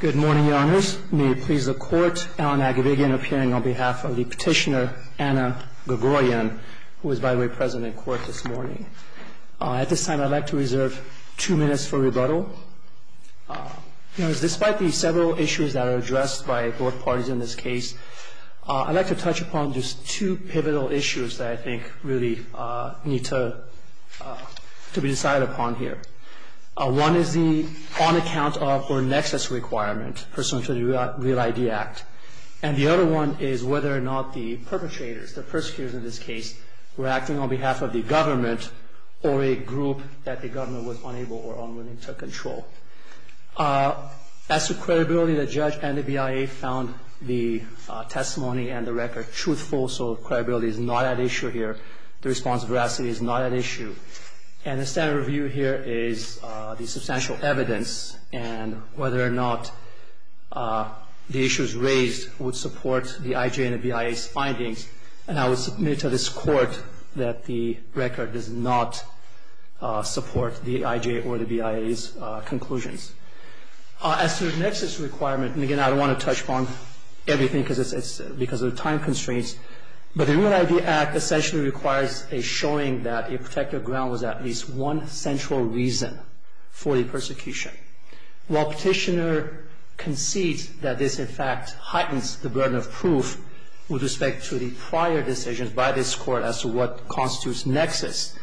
Good morning, Your Honors. May it please the Court, Alan Agabigian appearing on behalf of the petitioner Anna Grigoryan, who is, by the way, present in court this morning. At this time, I'd like to reserve two minutes for rebuttal. Despite the several issues that are addressed by both parties in this case, I'd like to touch upon just two pivotal issues that I think really need to be decided upon here. One is the on-account of or nexus requirement pursuant to the Real ID Act. And the other one is whether or not the perpetrators, the persecutors in this case, were acting on behalf of the government or a group that the government was unable or unwilling to control. As to credibility, the judge and the BIA found the testimony and the record truthful. So credibility is not at issue here. The response veracity is not at issue. And the standard review here is the substantial evidence and whether or not the issues raised would support the IJ and the BIA's findings. And I will submit to this Court that the record does not support the IJ or the BIA's conclusions. As to the nexus requirement, and again, I don't want to touch upon everything because of the time constraints. But the Real ID Act essentially requires a showing that a protected ground was at least one central reason for the persecution. While Petitioner concedes that this, in fact, heightens the burden of proof with respect to the prior decisions by this Court as to what constitutes nexus,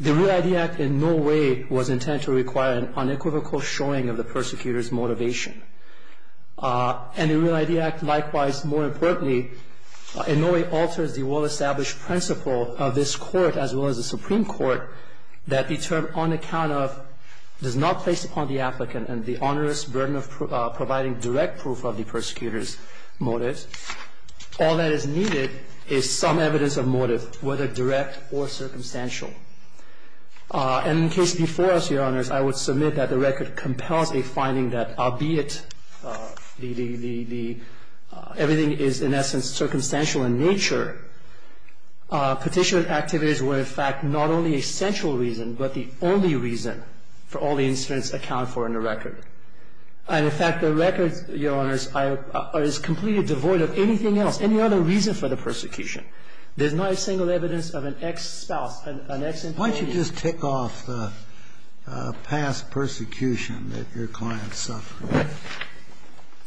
the Real ID Act in no way was intended to require an unequivocal showing of the persecutors' motivation. And the Real ID Act, likewise, more importantly, in no way alters the well-established principle of this Court, as well as the Supreme Court, that the term on account of does not place upon the applicant and the onerous burden of providing direct proof of the persecutors' motives. All that is needed is some evidence of motive, whether direct or circumstantial. And in the case before us, Your Honors, I would submit that the record compels a finding that, albeit everything is, in essence, circumstantial in nature, petitioner activities were, in fact, not only a central reason, but the only reason for all the incidents accounted for in the record. And in fact, the record, Your Honors, is completely devoid of anything else, any other reason for the persecution. There's not a single evidence of an ex-spouse, an ex-employee. Why don't you just tick off the past persecution that your client suffered?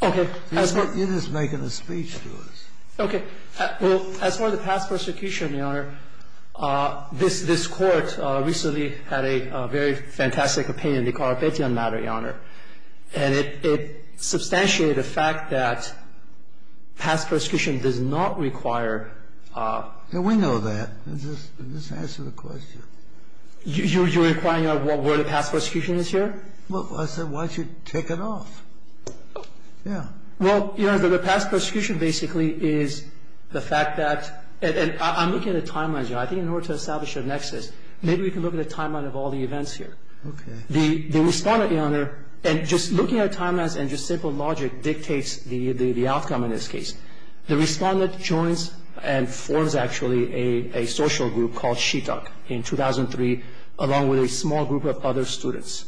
Okay. You're just making a speech to us. Okay. Well, as far as the past persecution, Your Honor, this Court recently had a very fantastic opinion in the Corropection matter, Your Honor. And it substantiated the fact that past persecution does not require the law. And we know that. Just answer the question. You're requiring a word of past persecution is here? Well, I said, why don't you take it off? Yeah. Well, Your Honor, the past persecution basically is the fact that and I'm looking at a timeline, Your Honor. I think in order to establish a nexus, maybe we can look at a timeline of all the events here. Okay. The Respondent, Your Honor, and just looking at timelines and just simple logic dictates the outcome in this case. The Respondent joins and forms, actually, a social group called SHITOC in 2003, along with a small group of other students.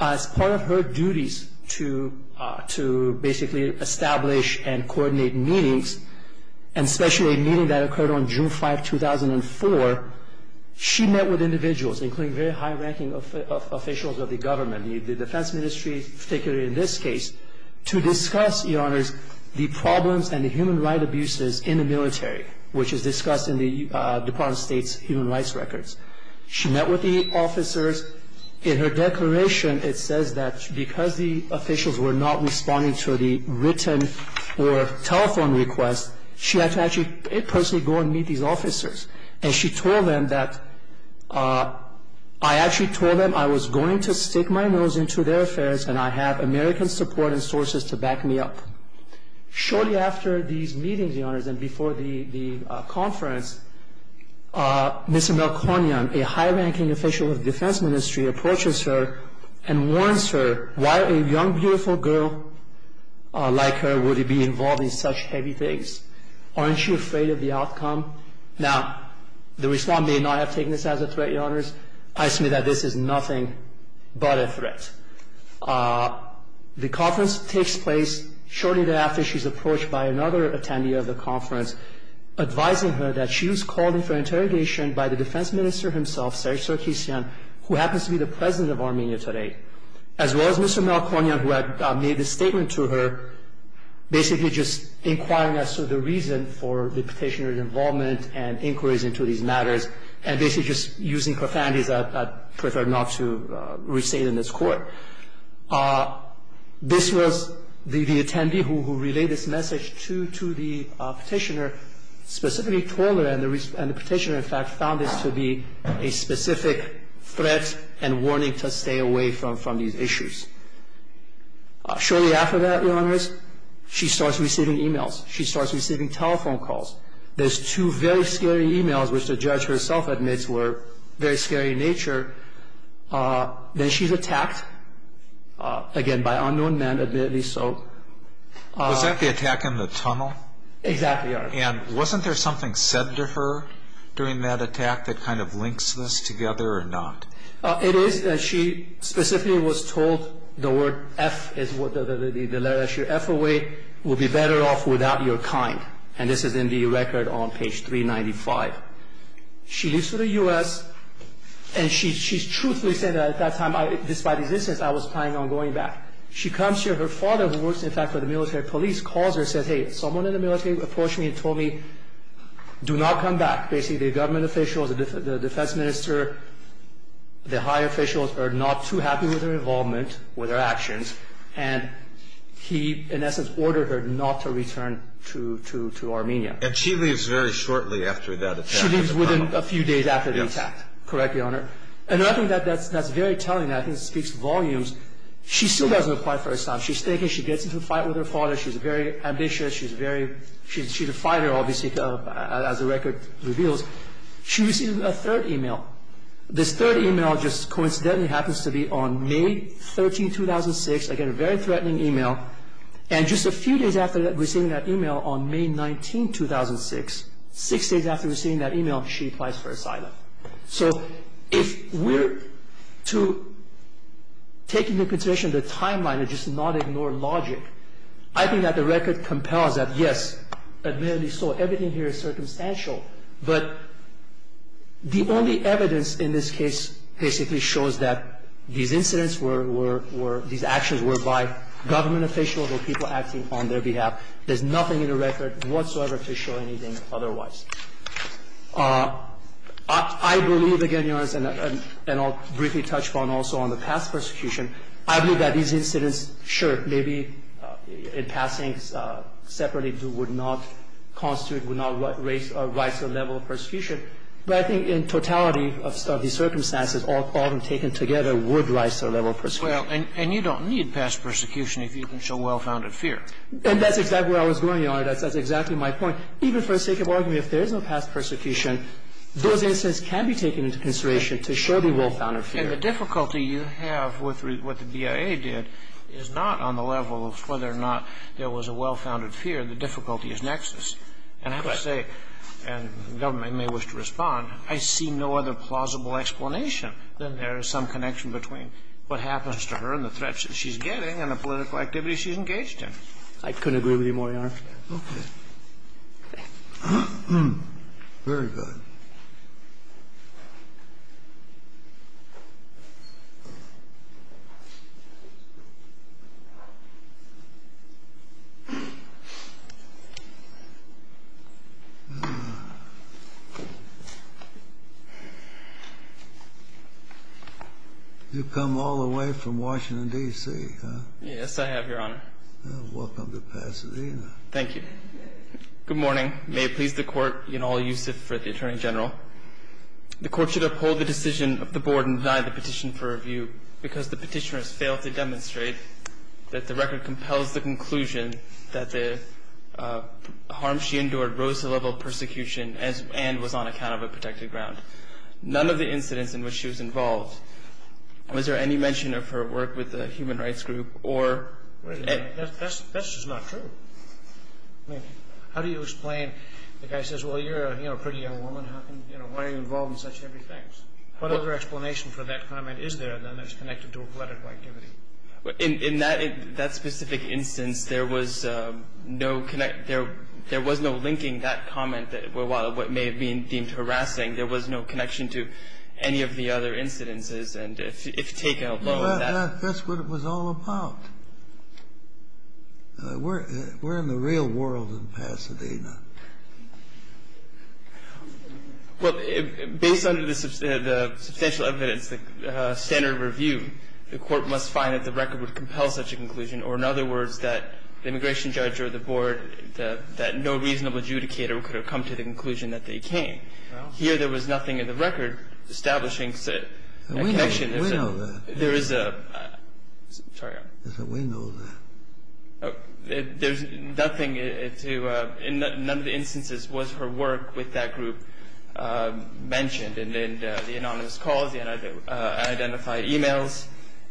As part of her duties to basically establish and coordinate meetings, and especially a meeting that occurred on June 5, 2004, she met with individuals, including very high-ranking officials of the government, the Defense Ministry, particularly in this case, to discuss, Your Honors, the problems and the human right abuses in the military, which is discussed in the Department of State's human rights records. She met with the officers. In her declaration, it says that because the officials were not responding to the written or telephone request, she had to actually personally go and meet these officers. And she told them that, I actually told them I was going to stick my nose into their affairs, and I have American support and sources to back me up. Shortly after these meetings, Your Honors, and before the conference, Mr. Mel Cornyan, a high-ranking official of the Defense Ministry, approaches her and warns her why a young, beautiful girl like her would be involved in such heavy things. Aren't you afraid of the outcome? Now, the Respondent may not have taken this as a threat, Your Honors. I assume that this is nothing but a threat. The conference takes place shortly thereafter. She's approached by another attendee of the conference, advising her that she was called in for an interrogation by the Defense Minister himself, Serzh Tserkisyan, who happens to be the President of Armenia today, as well as Mr. Mel Cornyan, who had made a statement to her, basically just inquiring as to the reason for the petitioner's involvement and inquiries into these matters, and basically just using profanities I'd prefer not to restate in this court. This was the attendee who relayed this message to the petitioner, specifically told her, and the petitioner, in fact, found this to be a specific threat and warning to stay away from these issues. Shortly after that, Your Honors, she starts receiving emails. She starts receiving telephone calls. There's two very scary emails, which the judge herself admits were very scary in nature. Then she's attacked, again, by unknown men, admittedly so. Was that the attack in the tunnel? Exactly, Your Honor. And wasn't there something said to her during that attack that kind of links this together or not? It is that she specifically was told the word F is the letter that she wrote, F away, will be better off without your kind. And this is in the record on page 395. She leaves for the US, and she's truthfully saying that at that time, despite these incidents, I was planning on going back. She comes here, her father, who works, in fact, for the military police, calls her and says, hey, someone in the military approached me and told me, do not come back. Basically, the government officials, the defense minister, the high officials are not too happy with her involvement, with her actions. And he, in essence, ordered her not to return to Armenia. And she leaves very shortly after that attack. She leaves within a few days after the attack. Correct, Your Honor. And I think that's very telling. I think it speaks volumes. She still doesn't apply for asylum. She's thinking she gets into a fight with her father. She's very ambitious. She's a fighter, obviously, as the record reveals. She received a third email. This third email just coincidentally happens to be on May 13, 2006. Again, a very threatening email. And just a few days after receiving that email on May 19, 2006, six days after receiving that email, she applies for asylum. So if we're to take into consideration the timeline and just not ignore logic, I think that the record compels that, yes, admittedly so, everything here is circumstantial, but the only evidence in this case basically shows that these incidents were, were, were, these actions were by government officials or people acting on their behalf. There's nothing in the record whatsoever to show anything otherwise. I believe, again, Your Honor, and I'll briefly touch upon also on the past persecution. I believe that these incidents, sure, maybe in passing separately would not constitute, would not raise or rise the level of persecution. But I think in totality of these circumstances, all of them taken together would rise to the level of persecution. And you don't need past persecution if you can show well-founded fear. And that's exactly where I was going, Your Honor. That's exactly my point. Even for the sake of argument, if there is no past persecution, those incidents can be taken into consideration to show the well-founded fear. And the difficulty you have with what the BIA did is not on the level of whether or not there was a well-founded fear, the difficulty is nexus. And I would say, and the government may wish to respond, I see no other plausible explanation than there is some connection between what happens to her and the threats that she's getting and the political activity she's engaged in. I couldn't agree with you more, Your Honor. Okay. Very good. You've come all the way from Washington, D.C., huh? Yes, I have, Your Honor. Welcome to Pasadena. Thank you. Good morning. May it please the Court, you know, I'll use it for the Attorney General. The Court should uphold the decision of the Board and deny the petition for review because the petitioner has failed to demonstrate that the record compels the conclusion that the harm she endured rose to the level of persecution and was on account of a protected ground. None of the incidents in which she was involved, was there any mention of her work with the human rights group or? Wait a minute, that's just not true. I mean, how do you explain, the guy says, well, you're a pretty young woman, how can, you know, why are you involved in such heavy things? What other explanation for that comment is there that's connected to a political activity? In that specific instance, there was no linking that comment, while it may have been deemed harassing, there was no connection to any of the other incidences. And if taken alone, that's- That's what it was all about. We're in the real world in Pasadena. Well, based on the substantial evidence, the standard review, the court must find that the record would compel such a conclusion, or in other words, that the immigration judge or the board, that no reasonable adjudicator could have come to the conclusion that they came. Here, there was nothing in the record establishing connection. We know that. There is a, sorry. We know that. There's nothing to, in none of the instances was her work with that group mentioned. And the anonymous calls, the unidentified emails,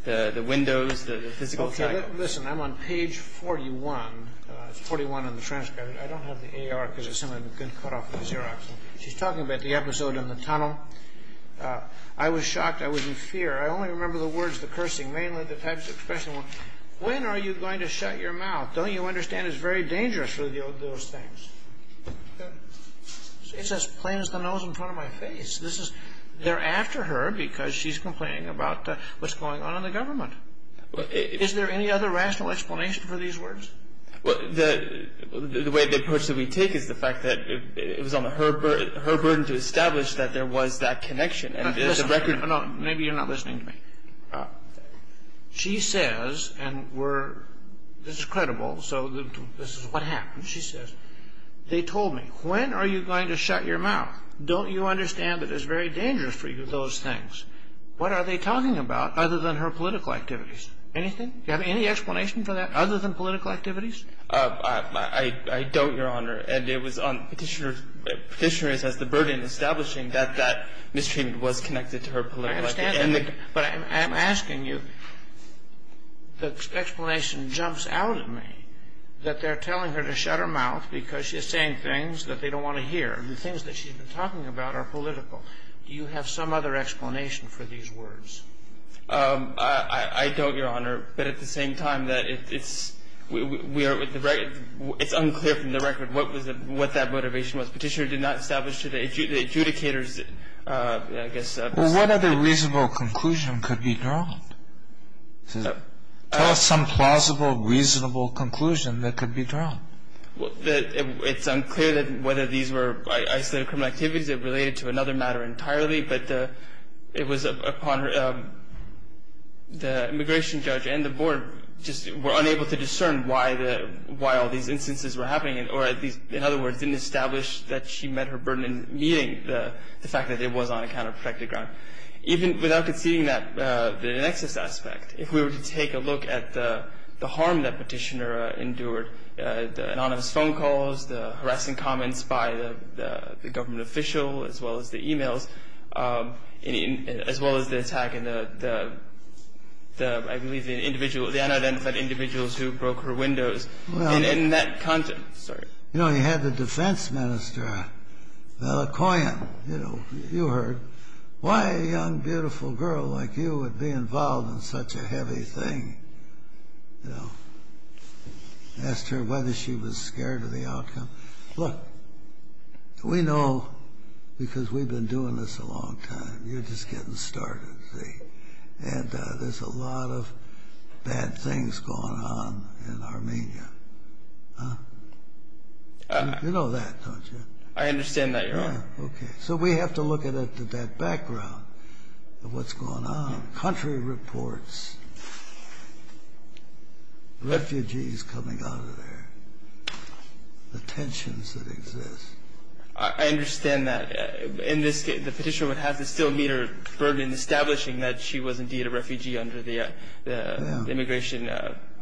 the windows, the physical- Okay, listen, I'm on page 41. It's 41 in the transcript. I don't have the AR because it's in a good cutoff of the Xerox. She's talking about the episode in the tunnel. I was shocked. I was in fear. I only remember the words, the cursing, mainly the types of expressions. When are you going to shut your mouth? Don't you understand it's very dangerous for those things? It's as plain as the nose in front of my face. They're after her because she's complaining about what's going on in the government. Is there any other rational explanation for these words? The way the approach that we take is the fact that it was on her burden to establish that there was that connection. And the record- No, maybe you're not listening to me. She says, and we're, this is credible, so this is what happened. She says, they told me, when are you going to shut your mouth? Don't you understand that it's very dangerous for you, those things? What are they talking about other than her political activities? Anything? Do you have any explanation for that other than political activities? I don't, Your Honor. And it was on Petitioner's, Petitioner's, as the burden establishing that that mistreatment was connected to her political activities. But I'm asking you, the explanation jumps out at me that they're telling her to shut her mouth because she's saying things that they don't want to hear, the things that she's been talking about are political. Do you have some other explanation for these words? I don't, Your Honor. But at the same time, it's unclear from the record what that motivation was. Petitioner did not establish to the adjudicators, I guess- Well, what other reasonable conclusion could be drawn? Tell us some plausible, reasonable conclusion that could be drawn. Well, it's unclear that whether these were isolated criminal activities that related to another matter entirely, but the, it was upon her, the immigration judge and the board just were unable to discern why the, why all these instances were happening, or at least, in other words, didn't establish that she met her burden in meeting the fact that it was on a counter-protective ground. Even without conceding that, the nexus aspect, if we were to take a look at the, the harm that Petitioner endured, the anonymous phone calls, the harassing comments by the, the government official, as well as the emails, as well as the attack in the, the, the, I believe the individual, the unidentified individuals who broke her windows, and in that context, sorry. You know, you had the defense minister, McCoyan, you know, you heard, why a young beautiful girl like you would be involved in such a heavy thing? You know, asked her whether she was scared of the outcome. Look, we know, because we've been doing this a long time, you're just getting started, see, and there's a lot of bad things going on in Armenia, huh? You know that, don't you? I understand that, Your Honor. Okay, so we have to look at it, at that background of what's going on. Country reports, refugees coming out of there, the tensions that exist. I, I understand that, in this case, the Petitioner would have to still meet her burden in establishing that she was indeed a refugee under the, the, the Immigration,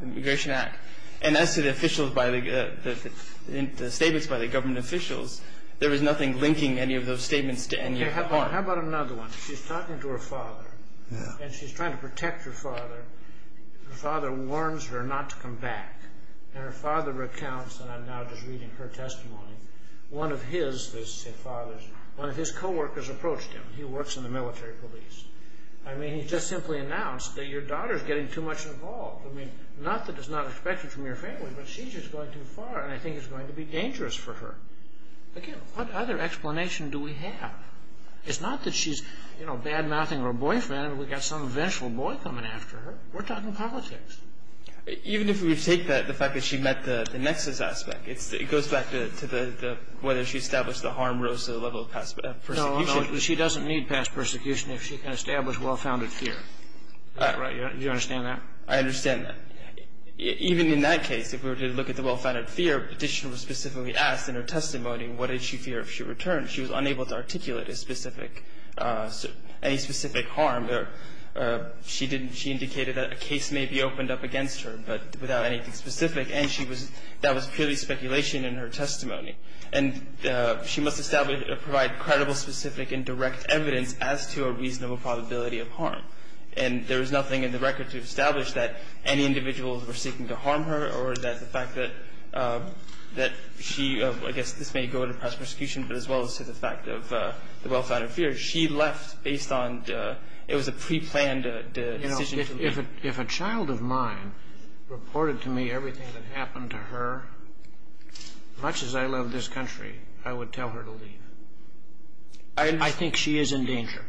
Immigration Act. And as to the officials by the, the, the, the statements by the government officials, there was nothing linking any of those statements to any of them. How about another one? She's talking to her father, and she's trying to protect her father. Her father warns her not to come back. And her father recounts, and I'm now just reading her testimony, one of his, his father's, one of his co-workers approached him. He works in the military police. I mean, he just simply announced that your daughter's getting too much involved. I mean, not that it's not expected from your family, but she's just going too far, and I think it's going to be dangerous for her. Again, what other explanation do we have? It's not that she's, you know, bad-mouthing her boyfriend, and we got some vengeful boy coming after her. We're talking politics. Even if we take that, the fact that she met the, the nexus aspect, it's, it goes back to, to the, the, whether she established the harm rose to the level of past persecution. No, no, she doesn't need past persecution if she can establish well-founded fear. Right, right. Do you understand that? I understand that. Even in that case, if we were to look at the well-founded fear, Petitioner was specifically asked in her testimony, what did she fear if she did not articulate a specific, any specific harm? She didn't, she indicated that a case may be opened up against her, but without anything specific, and she was, that was purely speculation in her testimony. And she must establish, provide credible, specific, and direct evidence as to a reasonable probability of harm. And there is nothing in the record to establish that any individuals were seeking to harm her, or that the fact that, that she, I guess this may go to past persecution, but as well as to the fact of the well-founded fear. She left based on, it was a pre-planned decision to leave. You know, if a, if a child of mine reported to me everything that happened to her, much as I love this country, I would tell her to leave. I think she is in danger.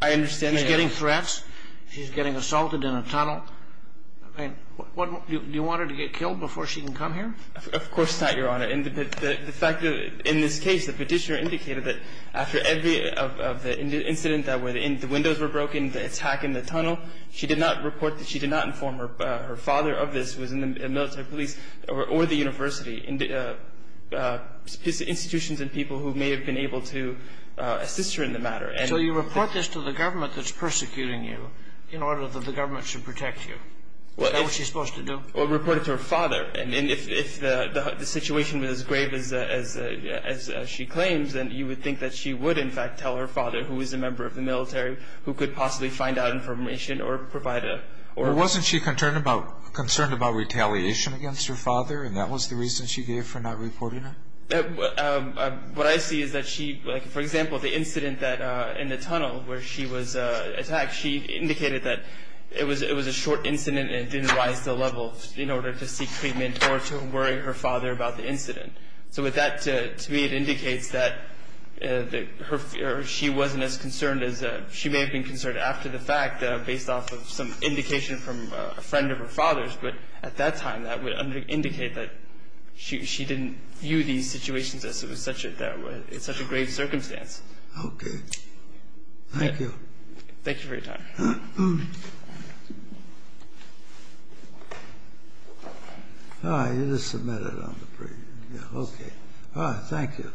I understand that. She's getting threats. She's getting assaulted in a tunnel. I mean, what, do you want her to get killed before she can come here? Of course not, Your Honor. And the fact that, in this case, the petitioner indicated that after every, of the incident that was in, the windows were broken, the attack in the tunnel, she did not report that she did not inform her father of this, who was in the military police, or the university, institutions and people who may have been able to assist her in the matter. And so you report this to the government that's persecuting you in order that the government should protect you. Is that what she's supposed to do? Well, report it to her father. And if, if the, the situation was as grave as, as, as she claims, then you would think that she would, in fact, tell her father, who is a member of the military, who could possibly find out information or provide a, or... Wasn't she concerned about, concerned about retaliation against her father? And that was the reason she gave for not reporting it? What I see is that she, like, for example, the incident that, in the tunnel where she was attacked, she indicated that it was, it was a short incident and it didn't rise to a level in order to seek treatment or to worry her father about the incident. So with that, to, to me, it indicates that, that her, or she wasn't as concerned as, she may have been concerned after the fact, based off of some indication from a friend of her father's. But at that time, that would indicate that she, she didn't view these situations as it was such a, it's such a grave circumstance. Okay, thank you. Thank you for your time. Ah, you just submitted it on the preview. Yeah, okay. Ah, thank you.